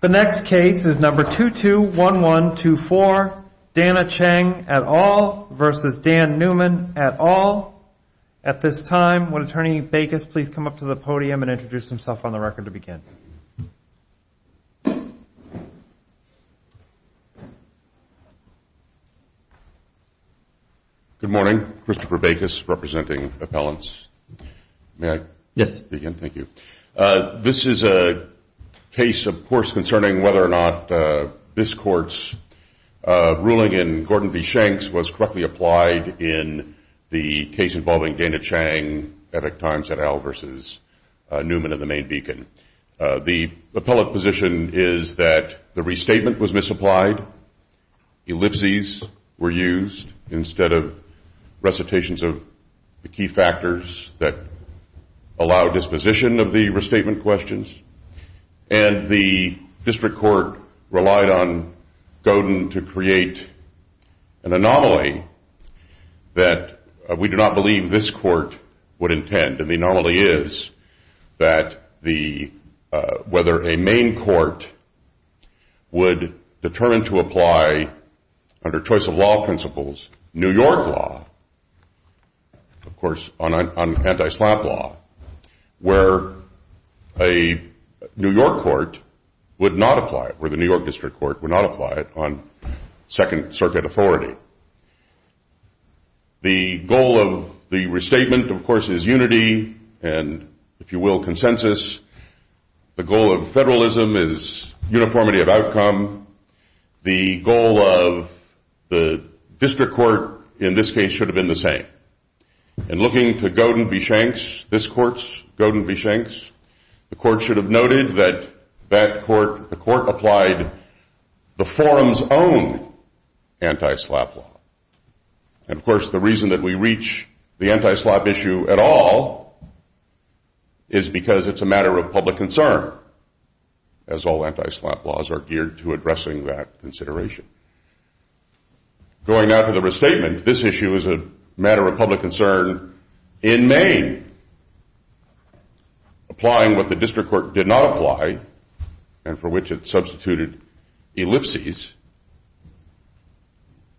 the next case is number two two one one two four dana chang at all versus dan neumann at all at this time what attorney bakes please come up to the podium and introduce himself on the record to begin good morning christopher bakes representing appellants yes again thank you uh... this is a case of course concerning whether or not uh... this court's uh... ruling in gordon v shanks was correctly applied in the case involving dana chang at a time set out versus uh... newman of the main beacon uh... the appellate position is that the restatement was misapplied ellipses were used instead of recitations of the key factors that allow disposition of the restatement questions and the district court relied on going to create an anomaly we do not believe this court would intend to be normally is that the uh... whether the main court determined to apply under choice of law principles new york law of course on on anti-slap law where a new york court would not apply for the new york district court would not apply it on second circuit authority the goal of the restatement of course is unity if you will consensus the goal of federalism is uniformity of outcome the goal of district court in this case should have been the same and looking to go to be shanks this course go to be shanks the court should have noted that that court the court applied the forum's own anti-slap law of course the reason that we reach the anti-slap issue at all is because it's a matter of public concern as all anti-slap laws are geared to addressing that consideration going out of the restatement this issue is a matter of public concern in maine applying what the district court did not apply and for which it substituted ellipses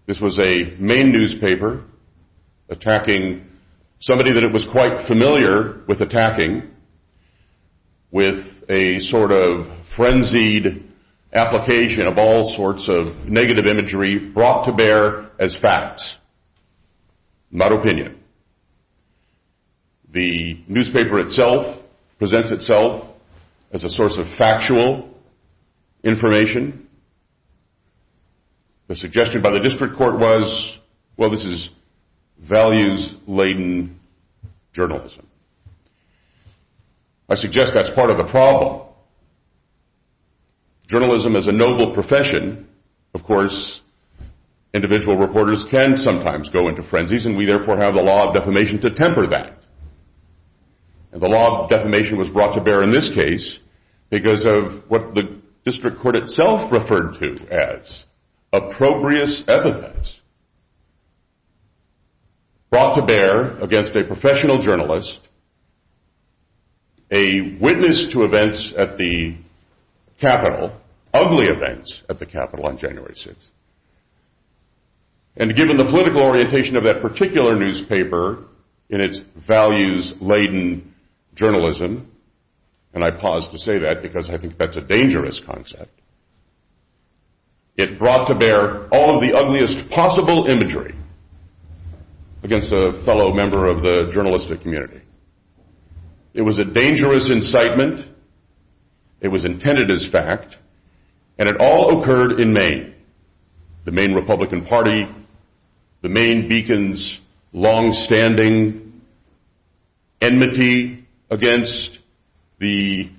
this was a main newspaper attacking somebody that it was quite familiar with attacking with a sort of frenzied application of all sorts of negative imagery brought to bear as facts not opinion the newspaper itself presents itself as a source of factual information the suggestion by the district court was well this is values laden journalism i suggest that's part of the problem journalism is a noble profession of course individual reporters can sometimes go into frenzies and we therefore have the law of defamation to temper that the law of defamation was brought to bear in this case because of what the district court itself referred to as approprious evidence brought to bear against a professional journalist a witness to events at the capitol ugly events at the capitol on january 6th and given the political orientation of that particular newspaper in its values laden journalism and i pause to say that because i think that's a dangerous concept it brought to bear all of the ugliest possible imagery against a fellow member of the journalistic community it was a dangerous incitement it was intended as fact and it all occurred in maine the main republican party the main beacons long-standing enmity against the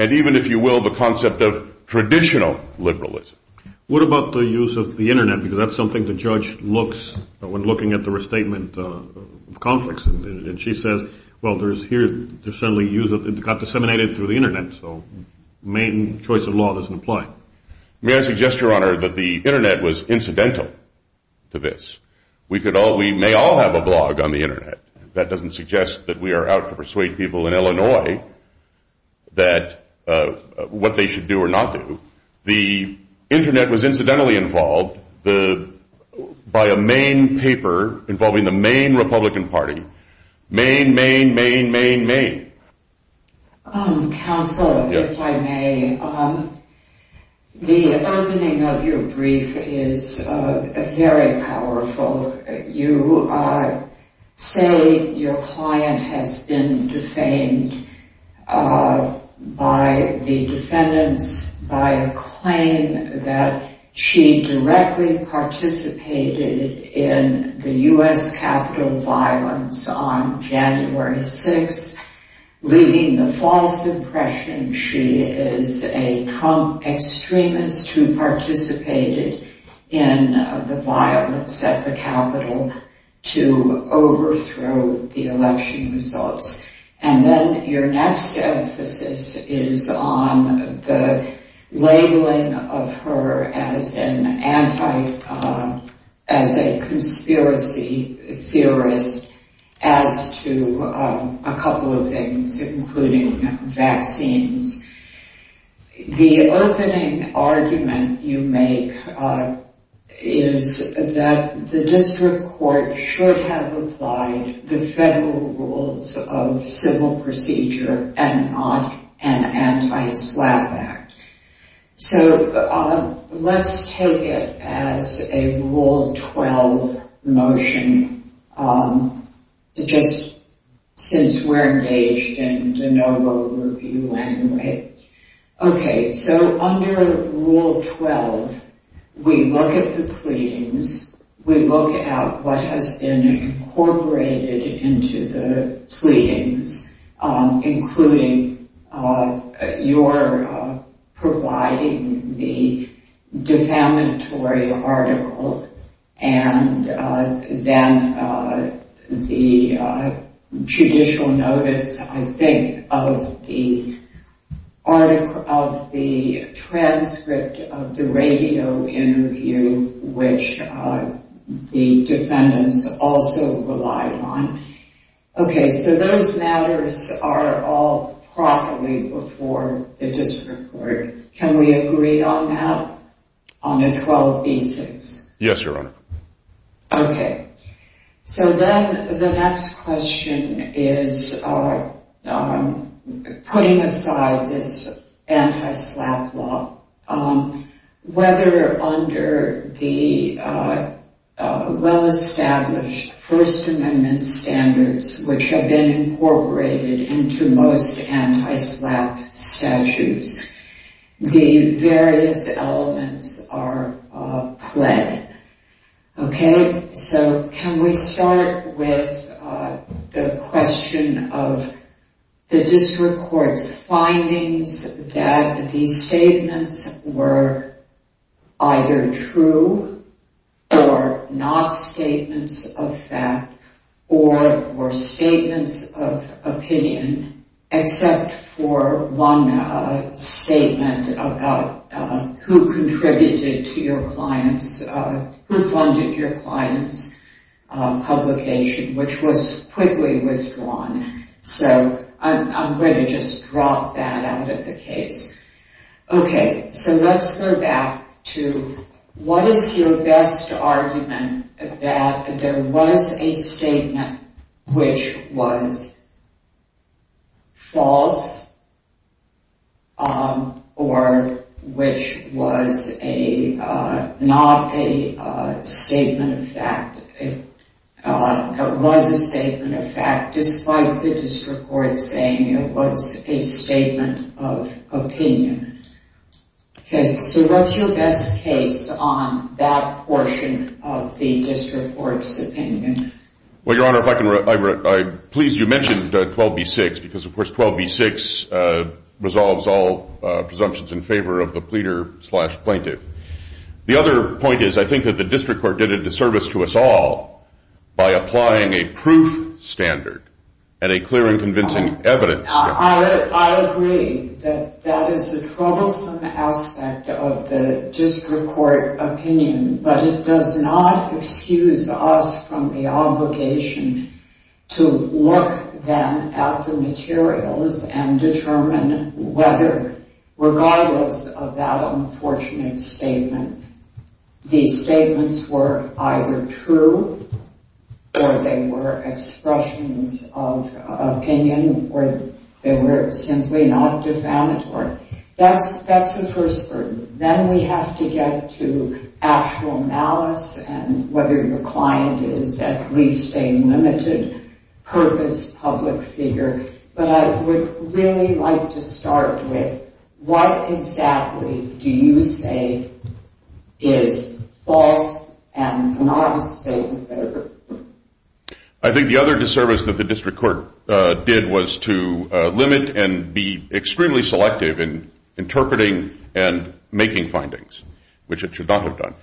and even if you will the concept of traditional liberalism what about the use of the internet because that's something the judge looks when looking at the restatement of conflicts and she says well there's here there's certainly use of it got disseminated through the internet so maine choice of law doesn't apply may i suggest your honor that the internet was incidental to this we could all we may all have a blog on the internet that doesn't suggest that we are out to persuade people in illinois that uh... what they should do or not the internet was incidentally involved the by a main paper involving the main republican party main main main main main uh... council if i may the opening of your brief is uh... very powerful you are say your client has been defamed uh... by the defendants by a claim that she directly participated in the u.s. capital violence on january 6th leaving the false impression she is a trump extremist who participated in the violence at the capital to overthrow the election results and then your next emphasis is on the labeling of her as an anti as a conspiracy theorist as to a couple of things including vaccines the opening argument you make is that the district court should have applied the federal rules of civil procedure and not an anti-slap act so let's take it as a rule 12 motion uh... just since we're engaged in de novo review anyway okay so under rule 12 we look at the pleadings we look at what has been incorporated into the pleadings including your providing the defamatory article and then the judicial notice i think of the article of the transcript of the radio interview which uh... the defendants also relied on okay so those matters are all properly before the district court can we agree on that? on a 12b6 yes your honor okay so then the next question is putting aside this anti-slap law whether under the well established first amendment standards which have been incorporated into most anti-slap statutes the various elements are pled okay so can we start with the question of the district courts findings that these statements were either true or not statements of fact or statements of opinion except for one statement about who contributed to your clients who funded your clients publication which was quickly withdrawn so i'm going to just drop that out of the case okay so let's go back to what is your best argument that there was a statement which was false or which was a not a statement of fact it was a statement of fact despite the district court saying it was a statement of opinion okay so what's your best case on that portion of the district court's opinion well your honor if I can please you mentioned 12b-6 because of course 12b-6 resolves all presumptions in favor of the pleader slash plaintiff the other point is I think that the district court did a disservice to us all by applying a proof standard and a clear and convincing evidence standard I agree that that is a troublesome aspect of the district court opinion but it does not excuse us from the obligation to look then at the materials and determine whether regardless of that unfortunate statement these statements were either true or they were expressions of opinion or they were simply not defamatory that's the first burden then we have to get to actual malice and whether your client is at least a limited purpose public figure but I would really like to start with what exactly do you say is false and not a statement of error I think the other disservice that the district court did was to limit and be extremely selective in making findings which it should not have done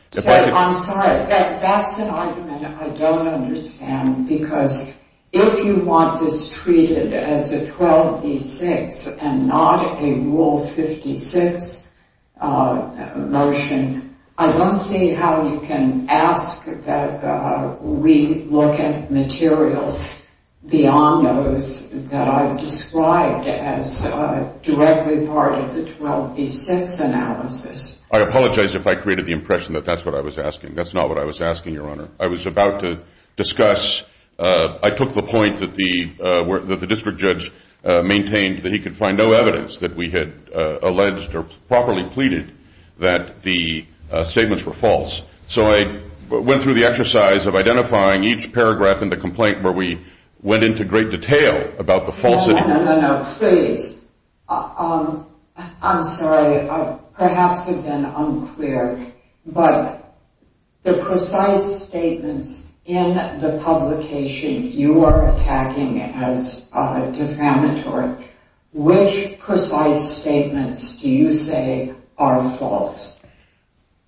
I'm sorry, that's an argument I don't understand because if you want this treated as a 12b-6 and not a rule 56 motion I don't see how you can ask that we look at materials beyond those that I've described as directly part of the 12b-6 analysis I apologize if I created the impression that that's what I was asking that's not what I was asking your honor I was about to discuss I took the point that the district judge maintained that he could find no evidence that we had alleged or properly pleaded that the statements were false so I went through the exercise of identifying each paragraph in the complaint where we went into great detail no, no, no, no, please I'm sorry, perhaps I've been unclear but the precise statements in the publication you are attacking as defamatory which precise statements do you say are false?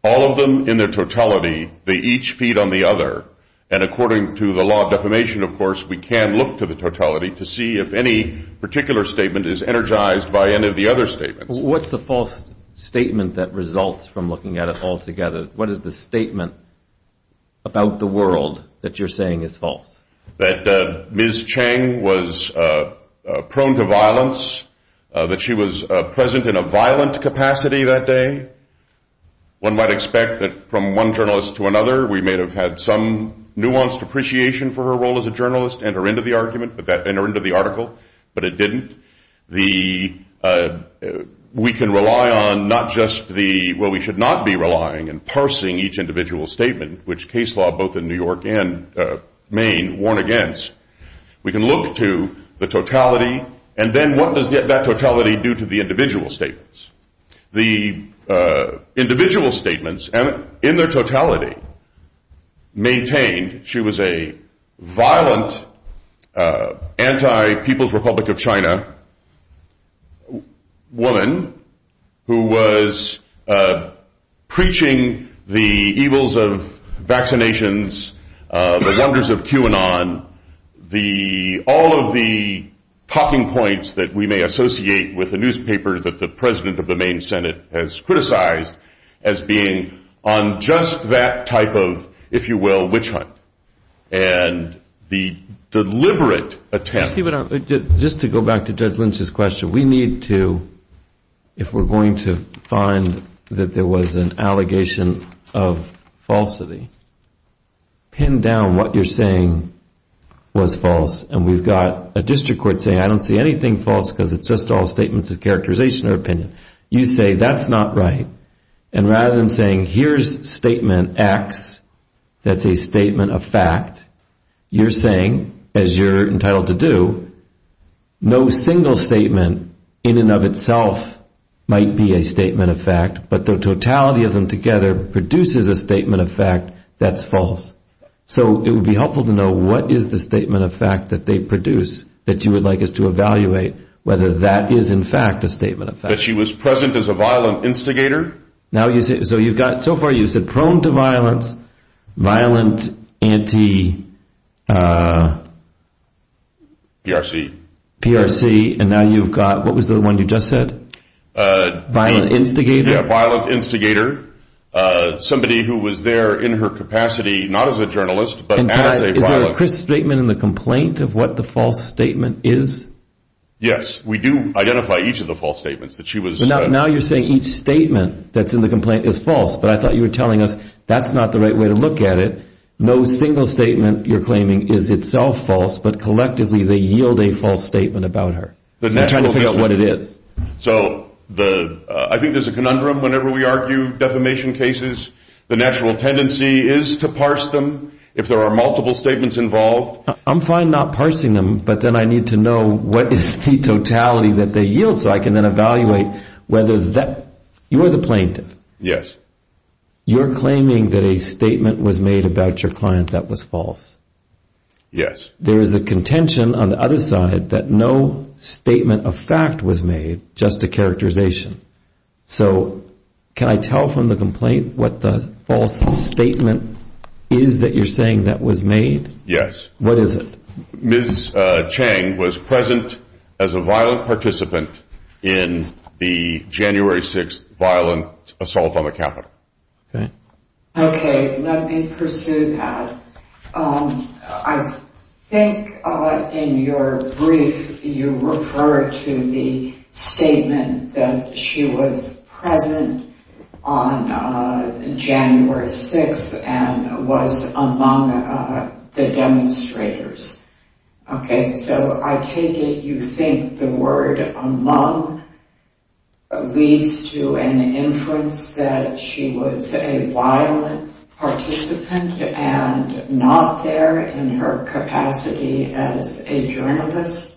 all of them in their totality they each feed on the other and according to the law of defamation of course we can look to the totality to see if any particular statement is energized by any of the other statements what's the false statement that results from looking at it all together? what is the statement about the world that you're saying is false? that Ms. Chang was prone to violence that she was present in a violent capacity that day one might expect that from one journalist to another we may have had some nuanced appreciation for her role as a journalist at the end of the article but it didn't we can rely on not just the well we should not be relying and parsing each individual statement which case law both in New York and Maine warn against we can look to the totality and then what does that totality do to the individual statements? the individual statements in their totality maintained she was a violent anti-People's Republic of China woman who was preaching the evils of vaccinations the wonders of QAnon all of the talking points that we may associate with the newspaper that the president of the Maine Senate has criticized as being on just that type of if you will witch hunt and the deliberate attempt just to go back to Judge Lynch's question we need to if we're going to find that there was an allegation of falsity pin down what you're saying was false and we've got a district court saying I don't see anything false because it's just all statements of characterization or opinion you say that's not right and rather than saying here's statement X that's a statement of fact you're saying as you're entitled to do no single statement in and of itself might be a statement of fact but the totality of them together produces a statement of fact that's false so it would be helpful to know what is the statement of fact that they produce that you would like us to evaluate whether that is in fact a statement of fact that she was present as a violent instigator now you say so you've got so far you've said prone to violence violent anti PRC PRC and now you've got what was the one you just said violent instigator violent instigator somebody who was there in her capacity not as a journalist but as a violent is there a crisp statement in the complaint of what the false statement is yes we do identify each of the false statements that she was now you're saying each statement that's in the complaint is false but I thought you were telling us that's not the right way to look at it no single statement you're claiming is itself false but collectively they yield a false statement about her trying to figure out what it is so I think there's a conundrum whenever we argue defamation cases the natural tendency is to parse them if there are multiple statements involved I'm fine not parsing them but then I need to know what is the totality that they yield so I can then evaluate whether that you are the plaintiff yes you're claiming that a statement was made about your client that was false yes there is a contention on the other side that no statement of fact was made just a characterization so can I tell from the complaint what the false statement is that you're saying that was made yes what is it Ms. Chang was present as a violent participant in the January 6th violent assault on the Capitol okay okay let me pursue that I think in your brief you refer to the statement that she was present on January 6th and was among the demonstrators okay so I take it you think the word among leads to an inference that she was a violent participant and not there in her capacity as a journalist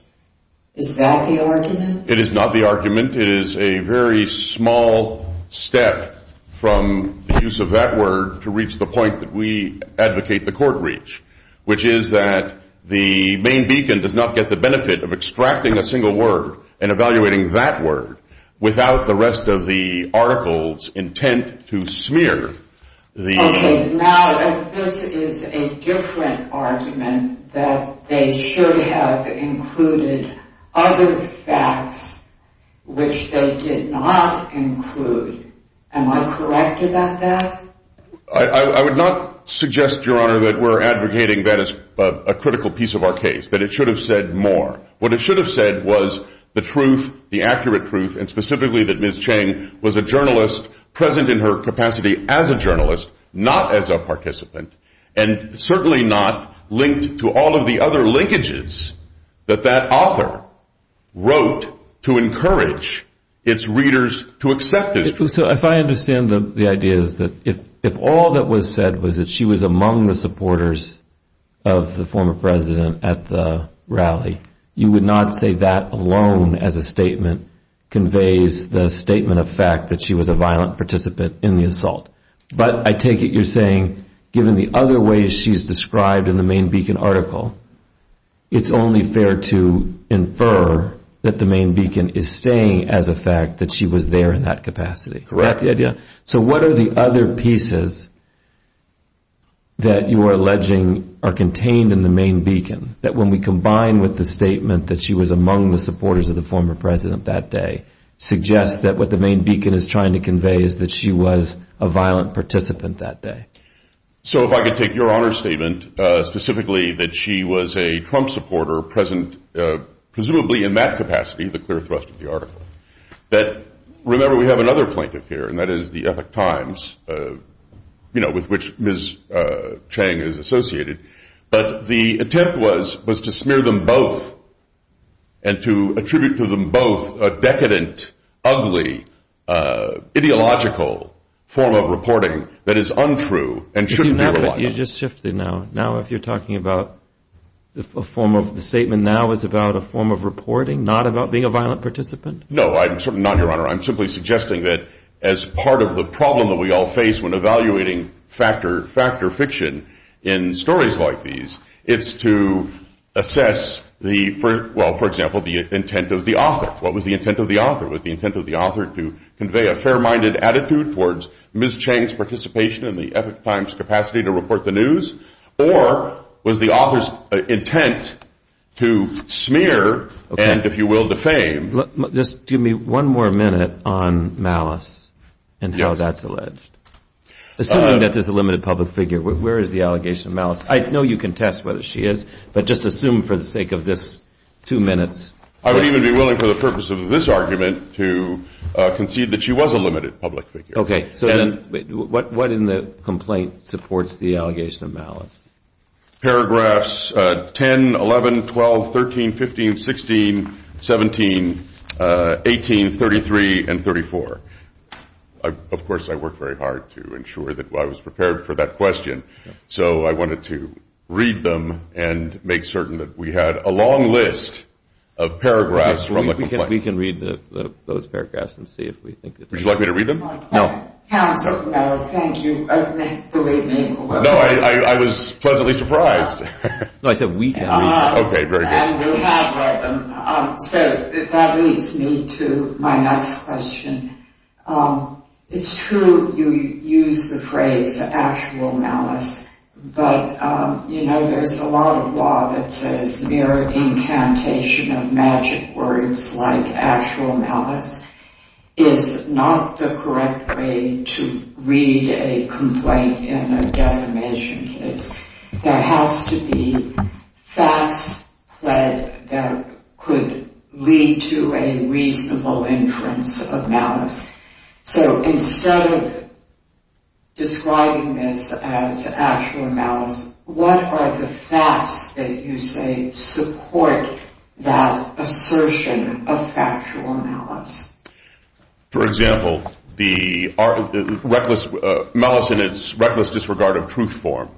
is that the argument? it is not the argument it is a very small step from the use of that word to reach the point that we advocate the court reach which is that the main beacon does not get the benefit of extracting a single word and evaluating that word without the rest of the articles intent to smear the okay now this is a different argument that they should have included other facts which they did not include am I correct about that? I would not suggest your honor that we are advocating that as a critical piece of our case that it should have said more what it should have said was the truth the accurate truth and specifically that Ms. Chang was a journalist present in her capacity as a journalist not as a participant and certainly not linked to all of the other linkages that that author wrote to encourage its readers to accept this so if I understand the idea is that if all that was said was that she was among the supporters of the former president at the rally you would not say that alone as a statement conveys the statement of fact that she was a violent participant in the assault but I take it you're saying given the other ways she's described in the main beacon article it's only fair to infer that the main beacon is saying as a fact that she was there in that capacity correct so what are the other pieces that you are alleging are contained in the main beacon that when we combine with the statement that she was among the supporters of the former president that day suggests that what the main beacon is trying to convey is that she was a violent participant that day so if I could take your honor statement specifically that she was a Trump supporter present presumably in that capacity the clear thrust of the article that remember we have another plaintiff here and that is the epic times you know with which Ms. Chang is associated but the attempt was was to smear them both and to attribute to them both a decadent ugly ideological form of reporting that is untrue and shouldn't be relied on you just shifted now now if you're talking about a form of the statement now is about a form of reporting not about being a violent participant no I'm certainly not your honor I'm simply suggesting that as part of the problem that we all face when evaluating factor fiction in stories like these it's to assess the well for example the intent of the author what was the intent of the author was the intent of the author to convey a fair minded attitude towards Ms. Chang's participation in the epic times capacity to report the news or was the author's intent to smear and if you will defame just give me one more minute on malice and how that's alleged assuming that there's a limited public figure where is the allegation of malice I know you contest whether she is but just assume for the sake of this two minutes I would even be willing for the purpose of this argument to concede that she was a limited public figure okay so then what in the complaint supports the allegation of malice paragraphs 10 11 12 13 15 16 17 18 18 19 33 and 34 of course I worked very hard to ensure that I was prepared for that question so I wanted to read them and make certain that we had a long list of paragraphs from the complaint we can read those paragraphs and see if we think would you like me to read them no counsel thank you for leaving no I was pleasantly surprised no I said we can read okay very good we have read them so that leads me to my next question it's true you use the phrase actual malice but you know there's a lot of law that says mere incantation of magic words like actual malice is not the correct way to read a complaint in a defamation case there has to be facts that could lead to a reasonable inference of malice so instead of describing this as actual malice what are the facts that you say support that assertion of factual malice for example the reckless malice in its reckless disregard of truth form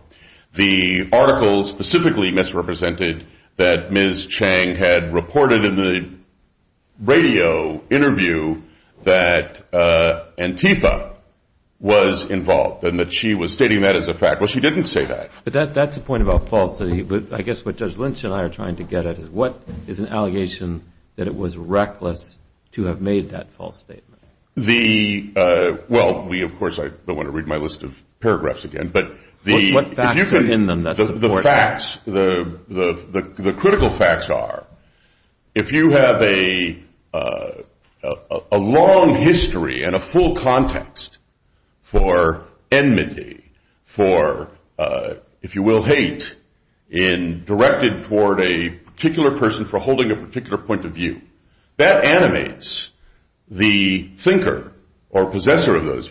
the article specifically misrepresented that Ms. Chang had reported in the radio interview that Antifa was involved and that she was stating that as a fact well she didn't say that but that's the point about false I guess what Judge Lynch and I are trying to get at is what is an allegation that it was reckless to have made that false statement. The well we of course I don't want to read my list of paragraphs again but the facts the critical facts are if you have a long history and a full context for enmity for if you will hate your client at the assault rather than on the grounds away from the assault. You can't very well say that there's nothing in the complaint that would suggest that it was known to your client that that was not true because as you're saying it's subsequently clarified and there was evidence before your client that would suggest she wasn't actually at the assault assuming that at the assault is fairly read to be a false statement about where she was. Do you see what I'm saying? That takes you away from the malice point and I think it puts a lot of pressure on what is your answer to whether that statement that she was at the assault is false or not. That's why Judge Lynch when she asked if you have any cases that help us with that, that seems relatively significant potentially. I will certainly look and provide you more cases if there are cases for that. As of right now the only argument on the headline was it's true. It's not an implication she was a violent protester. You have to read, building on the point over there, the entire article. You can't just read the headline and say that's false. You have to look at the entire thing. Back to what she said. But that is not the implication of the statement in the headline. Reading the headline in conjunction with the entire article, you can't read it as her being a violent participant. So his knowledge about whether she wasn't I think is irrelevant, Your Honor. Okay. So as a legal proposition you're saying the First Amendment requires that the headline not be taken in isolation but has to be understood. You have offered to provide to the Court additional briefing on this, these questions we've been asking. It will be up to Chief Judge Barron, but I would find it helpful if within 10 days each side provided supplemental briefing on that. Your Honor, and I'm perfectly happy to do that, just so I understand. We'll issue an order to make sure you know exactly what we want you to brief on that. But one step prior to that, I take it your contention is that the phrase at the assault isn't fairly taken to be a reasonable interpretation of the article. And you have to look at the way she's portrayed in the rest of the article. It doesn't say anything about her participating in any violence. Again, it shows her in front of a library, a book case. I know you want to avoid the anti-slap issue a little bit in the New York law. Judge Lynch, I know you said in the other argument you had some troublesome aspects of the district court opinion. I'd love to talk about that if the court has the to do that. I think that the court has the ability to do that. I don't think that the court has the ability to do that. I don't court has the ability to do that. Thank you. That concludes argument in this case.